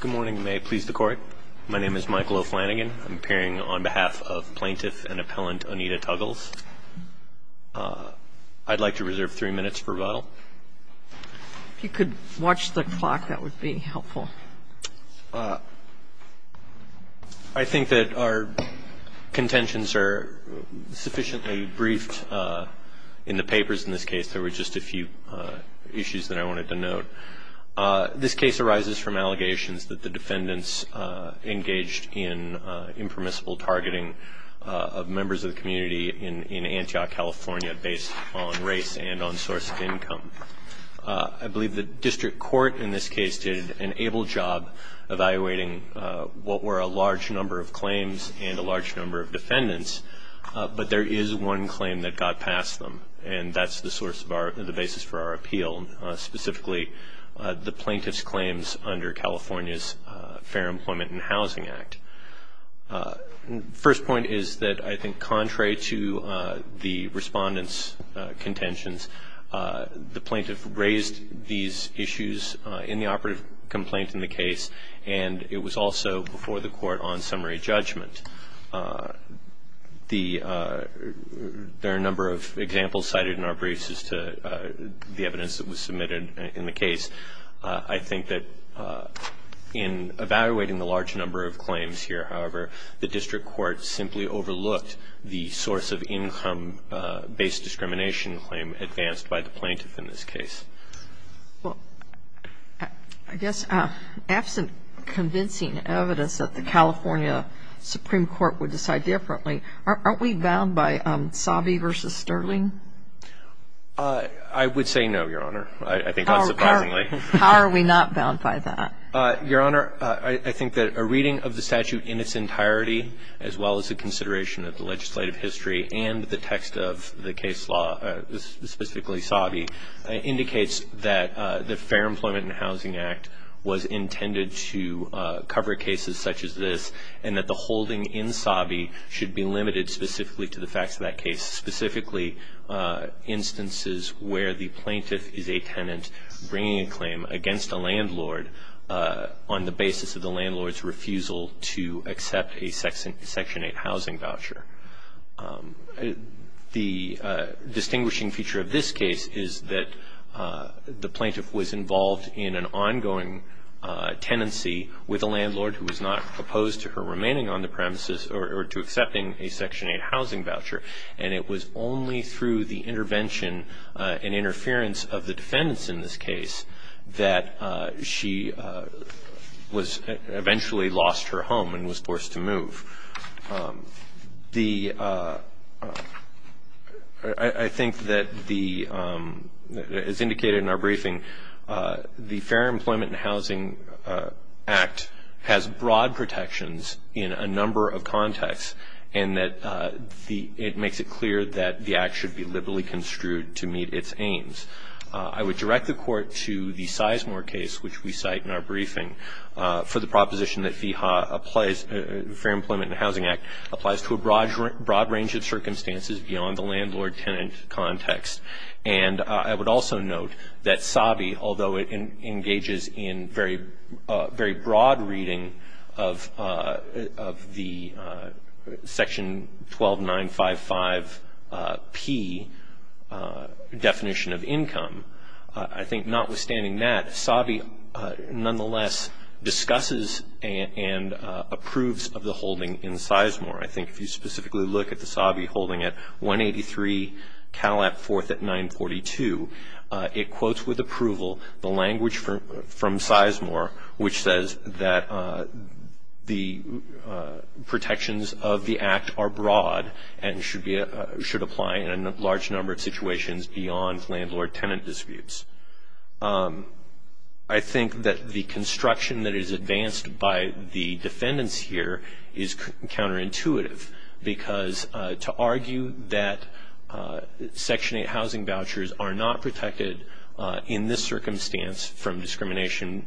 Good morning. May I please the court? My name is Michael O'Flanagan. I'm appearing on behalf of plaintiff and appellant Onita Tuggles. I'd like to reserve three minutes for rebuttal. If you could watch the clock, that would be helpful. I think that our contentions are sufficiently briefed in the papers in this case. There were just a few issues that I wanted to note. This case arises from allegations that the defendants engaged in impermissible targeting of members of the community in Antioch, California, based on race and on source of income. I believe the district court in this case did an able job evaluating what were a large number of claims and a large number of defendants, but there is one claim that got past them, and that's the source of our – the basis for our appeal, specifically the plaintiff's claims under California's Fair Employment and Housing Act. First point is that I think contrary to the Respondent's contentions, the plaintiff raised these issues in the operative complaint in the case, and it was also before the court on summary judgment. There are a number of examples cited in our briefs as to the evidence that was submitted in the case. I think that in evaluating the large number of claims here, however, the district court simply overlooked the source of income-based discrimination claim advanced by the plaintiff in this case. Well, I guess absent convincing evidence that the California Supreme Court would decide differently, aren't we bound by Sabi v. Sterling? I would say no, Your Honor. I think unsurprisingly. How are we not bound by that? Your Honor, I think that a reading of the statute in its entirety, as well as a consideration of the legislative history and the text of the case law, specifically Sabi, indicates that the Fair Employment and Housing Act was intended to cover cases such as this, and that the holding in Sabi should be limited specifically to the facts of that case, specifically instances where the plaintiff is a tenant bringing a claim against a landlord on the basis of the landlord's refusal to accept a Section 8 housing voucher. The distinguishing feature of this case is that the plaintiff was involved in an ongoing tenancy with a landlord who was not opposed to her remaining on the premises or to accepting a Section 8 housing voucher, and it was only through the intervention and interference of the defendants in this case that she eventually lost her home and was forced to move. I think that, as indicated in our briefing, the Fair Employment and Housing Act has broad protections in a number of contexts, and that it makes it clear that the Act should be liberally construed to meet its aims. I would direct the Court to the Sizemore case, which we cite in our briefing, for the proposition that the Fair Employment and Housing Act applies to a broad range of circumstances beyond the landlord-tenant context. And I would also note that Sabi, although it engages in very broad reading of the Section 12955P definition of income, I think notwithstanding that, Sabi nonetheless discusses and approves of the holding in Sizemore. I think if you specifically look at the Sabi holding at 183 Cadillac 4th at 942, it quotes with approval the language from Sizemore which says that the protections of the Act are broad and should apply in a large number of situations beyond landlord-tenant disputes. I think that the construction that is advanced by the defendants here is counterintuitive because to argue that Section 8 housing vouchers are not protected in this circumstance from discrimination,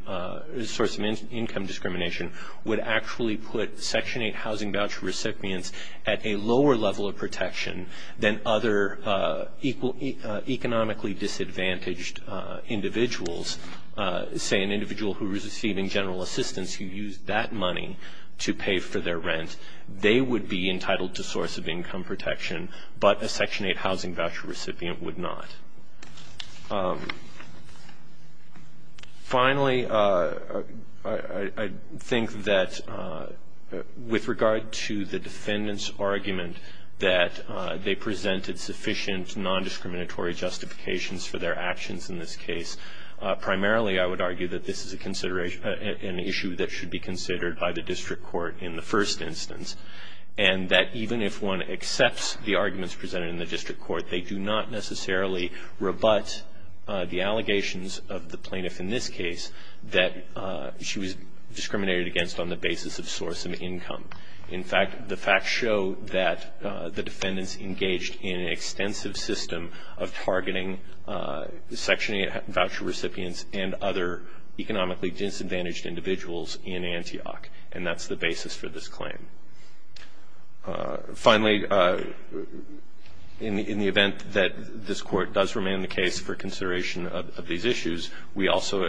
source of income discrimination, would actually put Section 8 housing voucher recipients at a lower level of risk than other economically disadvantaged individuals. Say an individual who is receiving general assistance who used that money to pay for their rent, they would be entitled to source of income protection, but a Section 8 housing voucher recipient would not. Finally, I think that with regard to the defendant's argument that they presented sufficient nondiscriminatory justifications for their actions in this case, primarily I would argue that this is an issue that should be considered by the district court in the first instance, and that even if one accepts the arguments presented in the district court, they do not necessarily rebut the allegations of the plaintiff in this case that she was discriminated against on the basis of source of income. In fact, the facts show that the defendants engaged in an extensive system of targeting Section 8 voucher recipients and other economically disadvantaged individuals in Antioch, and that's the basis for this claim. Finally, in the event that this court does remain in the case for consideration of these issues, we also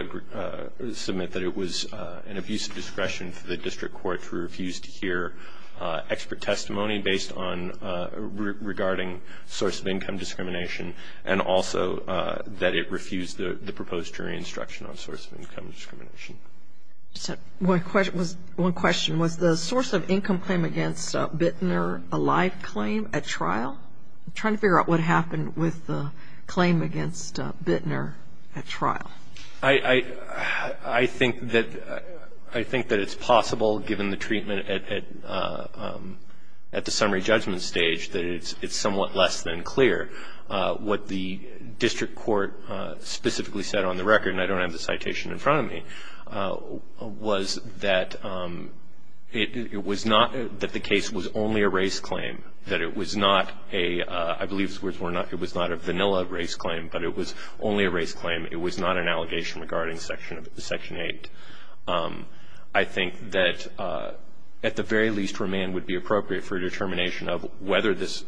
submit that it was an abuse of discretion for the district court to refuse to hear expert testimony based on regarding source of income discrimination, and also that it refused the proposed jury instruction on source of income discrimination. One question. Was the source of income claim against Bittner a live claim at trial? I'm trying to figure out what happened with the claim against Bittner at trial. I think that it's possible, given the treatment at the summary judgment stage, that it's somewhat less than clear what the district court specifically said on the record, and I don't have the citation in front of me. What I'm saying was that it was not that the case was only a race claim, that it was not a, I believe the words were not, it was not a vanilla race claim, but it was only a race claim. It was not an allegation regarding Section 8. I think that, at the very least, remand would be appropriate for a determination of whether this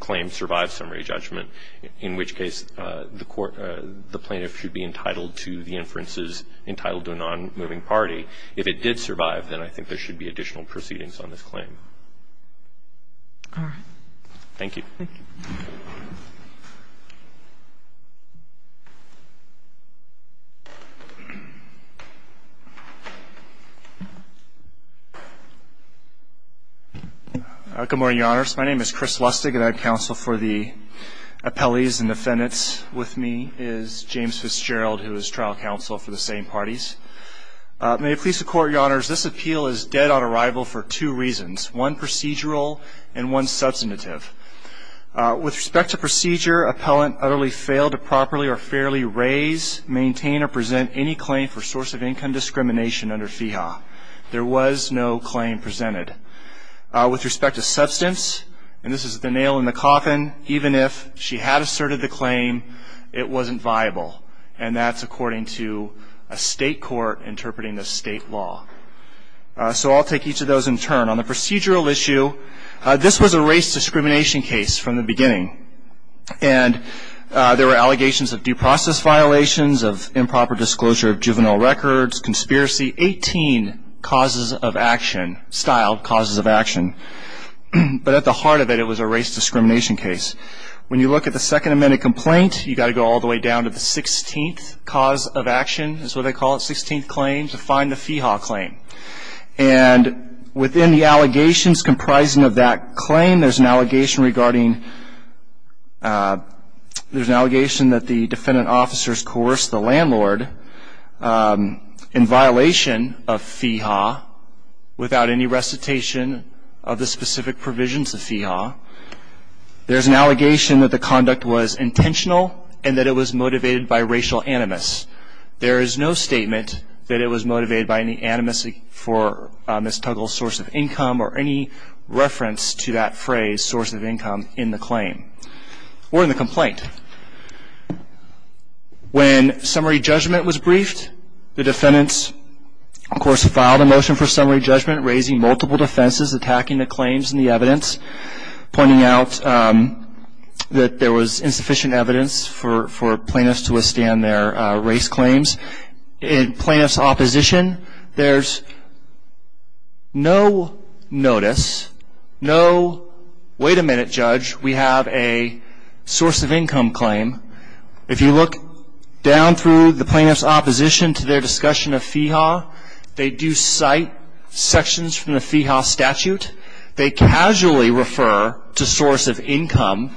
claim survived summary judgment, in which case the plaintiff should be entitled to the inferences entitled to a nonmoving party. If it did survive, then I think there should be additional proceedings on this claim. All right. Thank you. Thank you. Good morning, Your Honors. My name is Chris Lustig, and I have counsel for the appellees and defendants with me is James Fitzgerald, who is trial counsel for the same parties. May it please the Court, Your Honors, this appeal is dead on arrival for two reasons, one procedural and one substantive. With respect to procedure, appellant utterly failed to properly or fairly raise, maintain, or present any claim for source of income discrimination under FEHA. There was no claim presented. With respect to substance, and this is the nail in the coffin, even if she had asserted the claim, it wasn't viable, and that's according to a state court interpreting the state law. So I'll take each of those in turn. On the procedural issue, this was a race discrimination case from the beginning, and there were allegations of due process violations, of improper disclosure of juvenile records, conspiracy, 18 causes of action, styled causes of action. But at the heart of it, it was a race discrimination case. When you look at the Second Amendment complaint, you've got to go all the way down to the 16th cause of action, that's what they call it, 16th claim, to find the FEHA claim. And within the allegations comprising of that claim, there's an allegation regarding, there's an allegation that the defendant officers coerced the landlord in violation of FEHA without any recitation of the specific provisions of FEHA. There's an allegation that the conduct was intentional and that it was motivated by racial animus. There is no statement that it was motivated by any animus for mistoggle source of income or any reference to that phrase, source of income, in the claim or in the complaint. When summary judgment was briefed, the defendants, of course, filed a motion for summary judgment, raising multiple defenses, attacking the claims and the evidence, pointing out that there was insufficient evidence for plaintiffs to withstand their race claims. In plaintiffs' opposition, there's no notice, no, wait a minute, judge, we have a source of income claim. If you look down through the plaintiffs' opposition to their discussion of FEHA, they do cite sections from the FEHA statute. They casually refer to source of income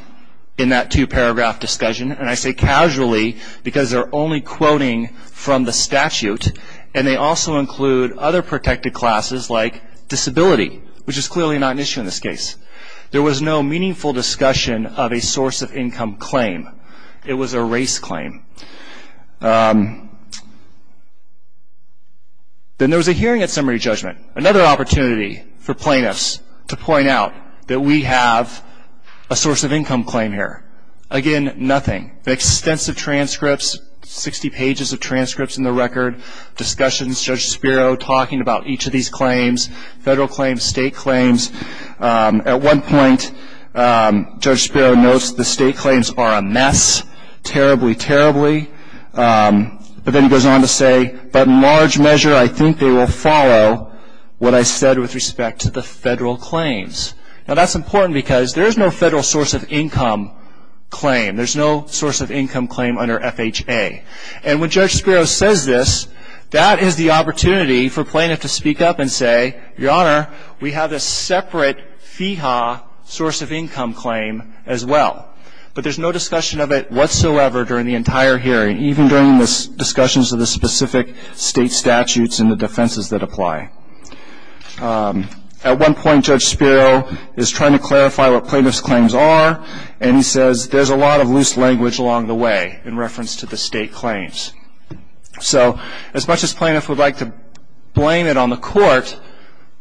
in that two-paragraph discussion, and I say casually because they're only quoting from the statute, and they also include other protected classes like disability, which is clearly not an issue in this case. There was no meaningful discussion of a source of income claim. It was a race claim. Then there was a hearing at summary judgment, another opportunity for plaintiffs to point out that we have a source of income claim here. Again, nothing, extensive transcripts, 60 pages of transcripts in the record, discussions, Judge Spiro talking about each of these claims, federal claims, state claims. At one point, Judge Spiro notes the state claims are a mess, terribly, terribly. But then he goes on to say, but in large measure I think they will follow what I said with respect to the federal claims. Now, that's important because there is no federal source of income claim. There's no source of income claim under FHA. And when Judge Spiro says this, that is the opportunity for plaintiffs to speak up and say, Your Honor, we have a separate FEHA source of income claim as well. But there's no discussion of it whatsoever during the entire hearing, even during the discussions of the specific state statutes and the defenses that apply. At one point, Judge Spiro is trying to clarify what plaintiffs' claims are, and he says there's a lot of loose language along the way in reference to the state claims. So as much as plaintiffs would like to blame it on the court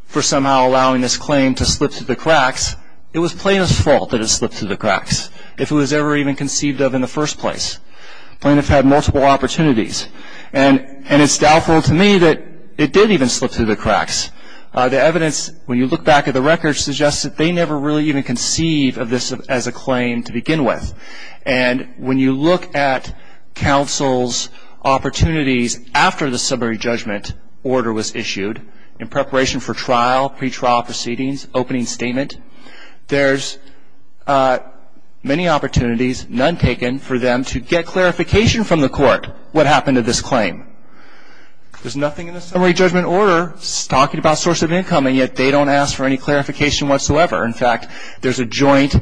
for somehow allowing this claim to slip through the cracks, it was plaintiff's fault that it slipped through the cracks, if it was ever even conceived of in the first place. Plaintiffs had multiple opportunities. And it's doubtful to me that it did even slip through the cracks. The evidence, when you look back at the records, suggests that they never really even conceived of this as a claim to begin with. And when you look at counsel's opportunities after the summary judgment order was issued, in preparation for trial, pretrial proceedings, opening statement, there's many opportunities, none taken, for them to get clarification from the court, what happened to this claim. There's nothing in the summary judgment order talking about source of income, and yet they don't ask for any clarification whatsoever. In fact, there's a joint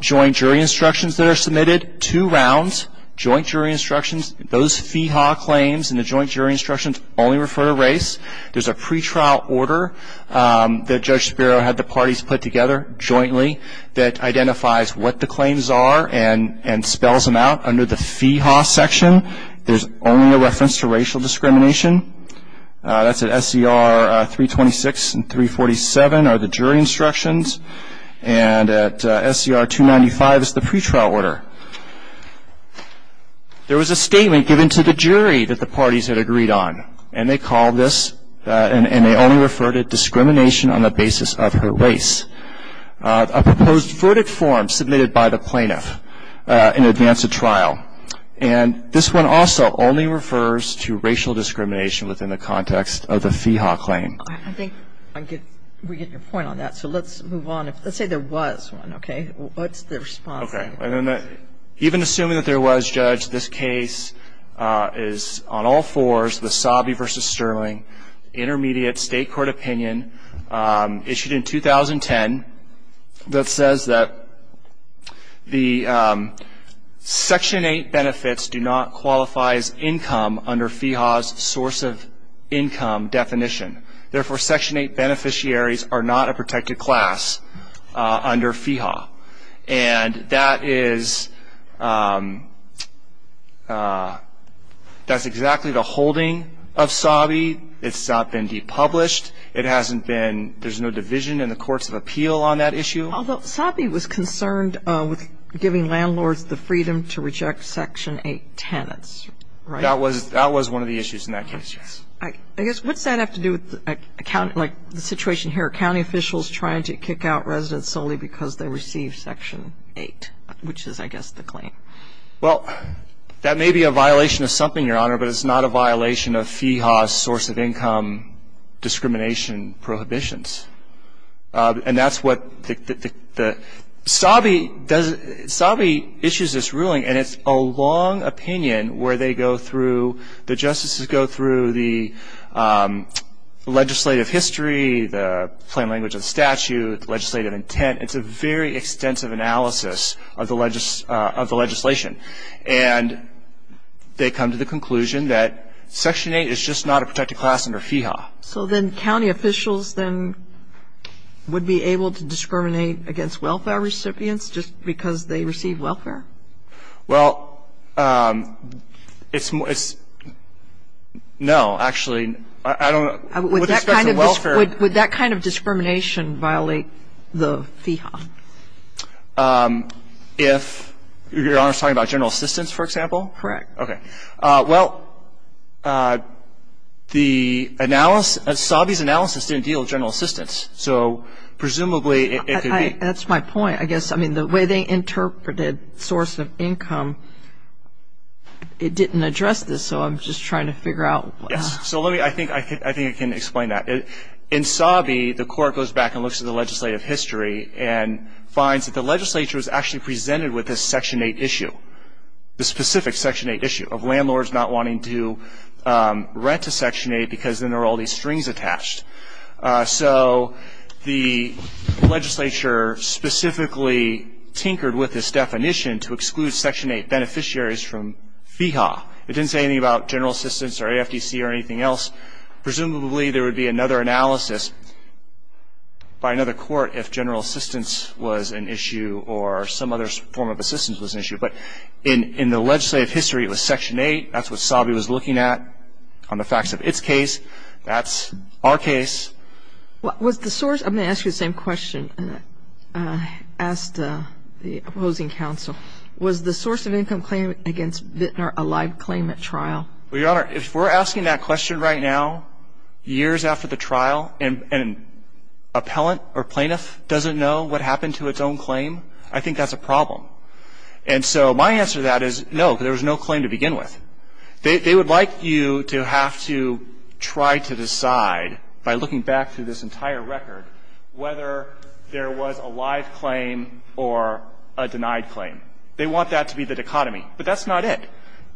jury instructions that are submitted, two rounds, joint jury instructions. Those FEHA claims in the joint jury instructions only refer to race. There's a pretrial order that Judge Spiro had the parties put together jointly that identifies what the claims are and spells them out under the FEHA section. There's only a reference to racial discrimination. That's at SCR 326 and 347 are the jury instructions, and at SCR 295 is the pretrial order. There was a statement given to the jury that the parties had agreed on, and they call this, and they only refer to discrimination on the basis of her race. A proposed verdict form submitted by the plaintiff in advance of trial, and this one also only refers to racial discrimination within the context of the FEHA claim. I think we get your point on that, so let's move on. Let's say there was one, okay? What's the response? Okay, even assuming that there was, Judge, this case is on all fours, the Sobby v. Sterling Intermediate State Court Opinion issued in 2010 that says that the Section 8 benefits do not qualify as income under FEHA's source of income definition. Therefore, Section 8 beneficiaries are not a protected class under FEHA, and that's exactly the holding of Sobby. It's not been depublished. There's no division in the courts of appeal on that issue. Although Sobby was concerned with giving landlords the freedom to reject Section 8 tenants, right? That was one of the issues in that case, yes. I guess, what's that have to do with, like, the situation here, county officials trying to kick out residents solely because they received Section 8, which is, I guess, the claim? Well, that may be a violation of something, Your Honor, but it's not a violation of FEHA's source of income discrimination prohibitions. Sobby issues this ruling, and it's a long opinion where they go through, the justices go through the legislative history, the plain language of the statute, legislative intent. It's a very extensive analysis of the legislation, and they come to the conclusion that Section 8 is just not a protected class under FEHA. So then county officials then would be able to discriminate against welfare recipients just because they receive welfare? Well, it's no, actually. Would that kind of discrimination violate the FEHA? If Your Honor is talking about general assistance, for example? Correct. Well, Sobby's analysis didn't deal with general assistance, so presumably it could be. That's my point. I guess, I mean, the way they interpreted source of income, it didn't address this, so I'm just trying to figure out. In Sobby, the court goes back and looks at the legislative history and finds that the legislature was actually presented with this Section 8 issue, the specific Section 8 issue of landlords not wanting to rent to Section 8 because then there are all these strings attached. So the legislature specifically tinkered with this definition to exclude Section 8 beneficiaries from FEHA. It didn't say anything about general assistance or AFDC or anything else. Presumably, there would be another analysis by another court if general assistance was an issue or some other form of assistance was an issue. But in the legislative history, it was Section 8. That's what Sobby was looking at on the facts of its case. That's our case. I'm going to ask you the same question asked the opposing counsel. Was the source of income claim against Vintner a live claim at trial? Well, Your Honor, if we're asking that question right now, years after the trial, and an appellant or plaintiff doesn't know what happened to its own claim, I think that's a problem. And so my answer to that is no, because there was no claim to begin with. They would like you to have to try to decide by looking back through this entire record whether there was a live claim or a denied claim. They want that to be the dichotomy, but that's not it.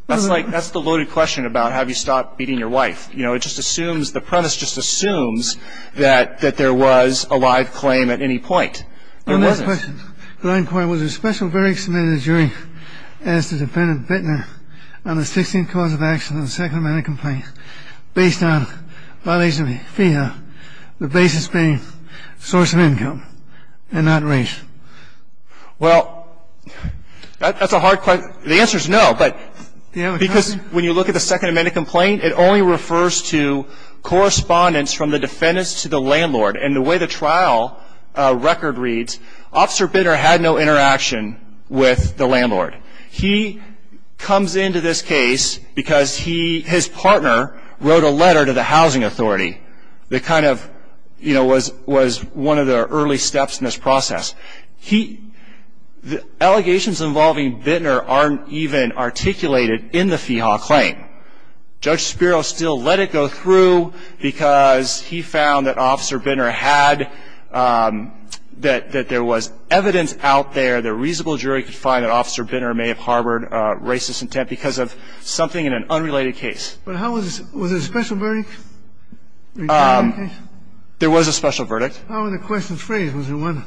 That's like, that's the loaded question about have you stopped beating your wife. You know, it just assumes, the premise just assumes that there was a live claim at any point. There wasn't. On that question, the line point, was there a special variance submitted during, as to defendant Vintner, on the 16th cause of action in the Sacramento complaint based on violation of FEHA, the basis being source of income and not race? Well, that's a hard question. The answer is no, but because when you look at the Second Amendment complaint, it only refers to correspondence from the defendants to the landlord. And the way the trial record reads, Officer Vintner had no interaction with the landlord. He comes into this case because he, his partner, wrote a letter to the housing authority that kind of, you know, was one of the early steps in this process. He, the allegations involving Vintner aren't even articulated in the FEHA claim. Judge Spiro still let it go through because he found that Officer Vintner had, that there was evidence out there, the reasonable jury could find that Officer Vintner may have harbored racist intent because of something in an unrelated case. But how was this, was there a special verdict? There was a special verdict. How were the questions phrased? Was there one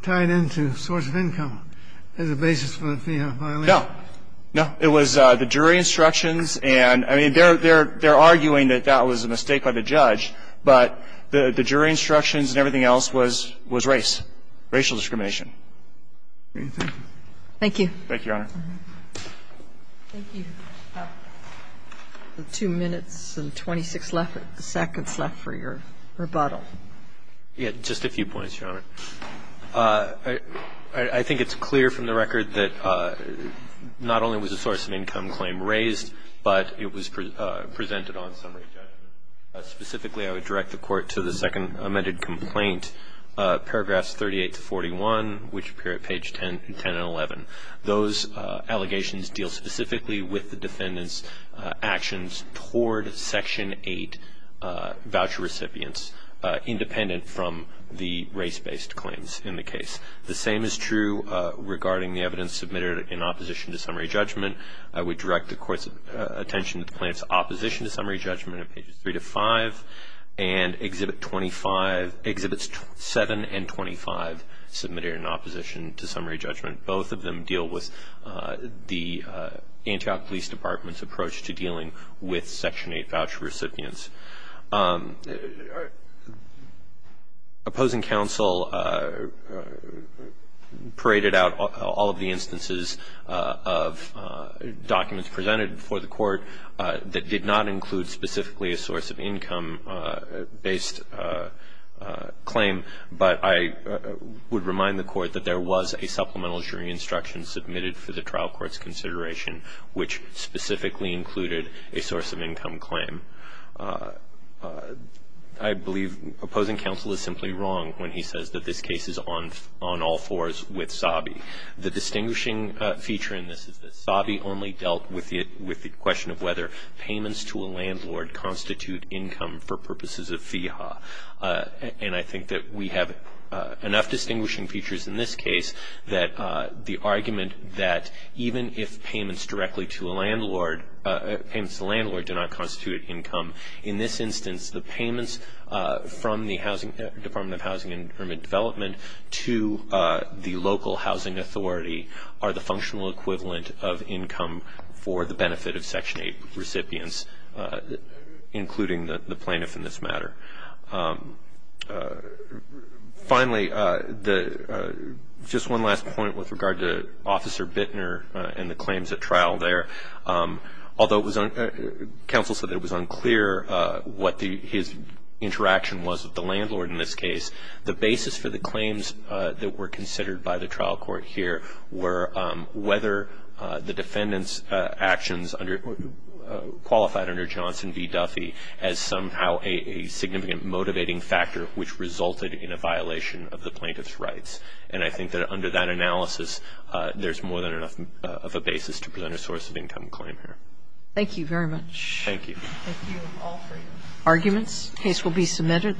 tied into source of income as a basis for the FEHA violation? No. No, it was the jury instructions and, I mean, they're arguing that that was a mistake by the judge, but the jury instructions and everything else was race, racial discrimination. Thank you. Thank you, Your Honor. Thank you. Two minutes and 26 seconds left for your rebuttal. Yeah, just a few points, Your Honor. I think it's clear from the record that not only was a source of income claim raised, but it was presented on summary judgment. Specifically, I would direct the Court to the second amended complaint, paragraphs 38 to 41, which appear at page 10 and 11. Those allegations deal specifically with the defendant's actions toward Section 8 voucher recipients, independent from the race-based claims in the case. The same is true regarding the evidence submitted in opposition to summary judgment. I would direct the Court's attention to the plaintiff's opposition to summary judgment at pages 3 to 5 and Exhibits 7 and 25 submitted in opposition to summary judgment. Both of them deal with the Antioch Police Department's approach to dealing with Section 8 voucher recipients. Opposing counsel paraded out all of the instances of documents presented before the Court that did not include specifically a source of income-based claim, but I would remind the Court that there was a supplemental jury instruction submitted for the trial court's consideration which specifically included a source of income claim. I believe opposing counsel is simply wrong when he says that this case is on all fours with Sabi. The distinguishing feature in this is that Sabi only dealt with the question of whether payments to a landlord constitute income for purposes of FEHA. And I think that we have enough distinguishing features in this case that the argument that even if payments directly to a landlord do not constitute income, in this instance, the payments from the Department of Housing and Urban Development to the local housing authority are the functional equivalent of income for the benefit of Section 8 recipients, including the plaintiff in this matter. Finally, just one last point with regard to Officer Bittner and the claims at trial there. Although counsel said it was unclear what his interaction was with the landlord in this case, the basis for the claims that were considered by the trial court here were whether the defendant's actions qualified under Johnson v. Duffy as somehow a significant motivating factor which resulted in a violation of the plaintiff's rights. And I think that under that analysis, there's more than enough of a basis to present a source of income claim here. Thank you very much. Thank you. Thank you all for your arguments. The case will be submitted.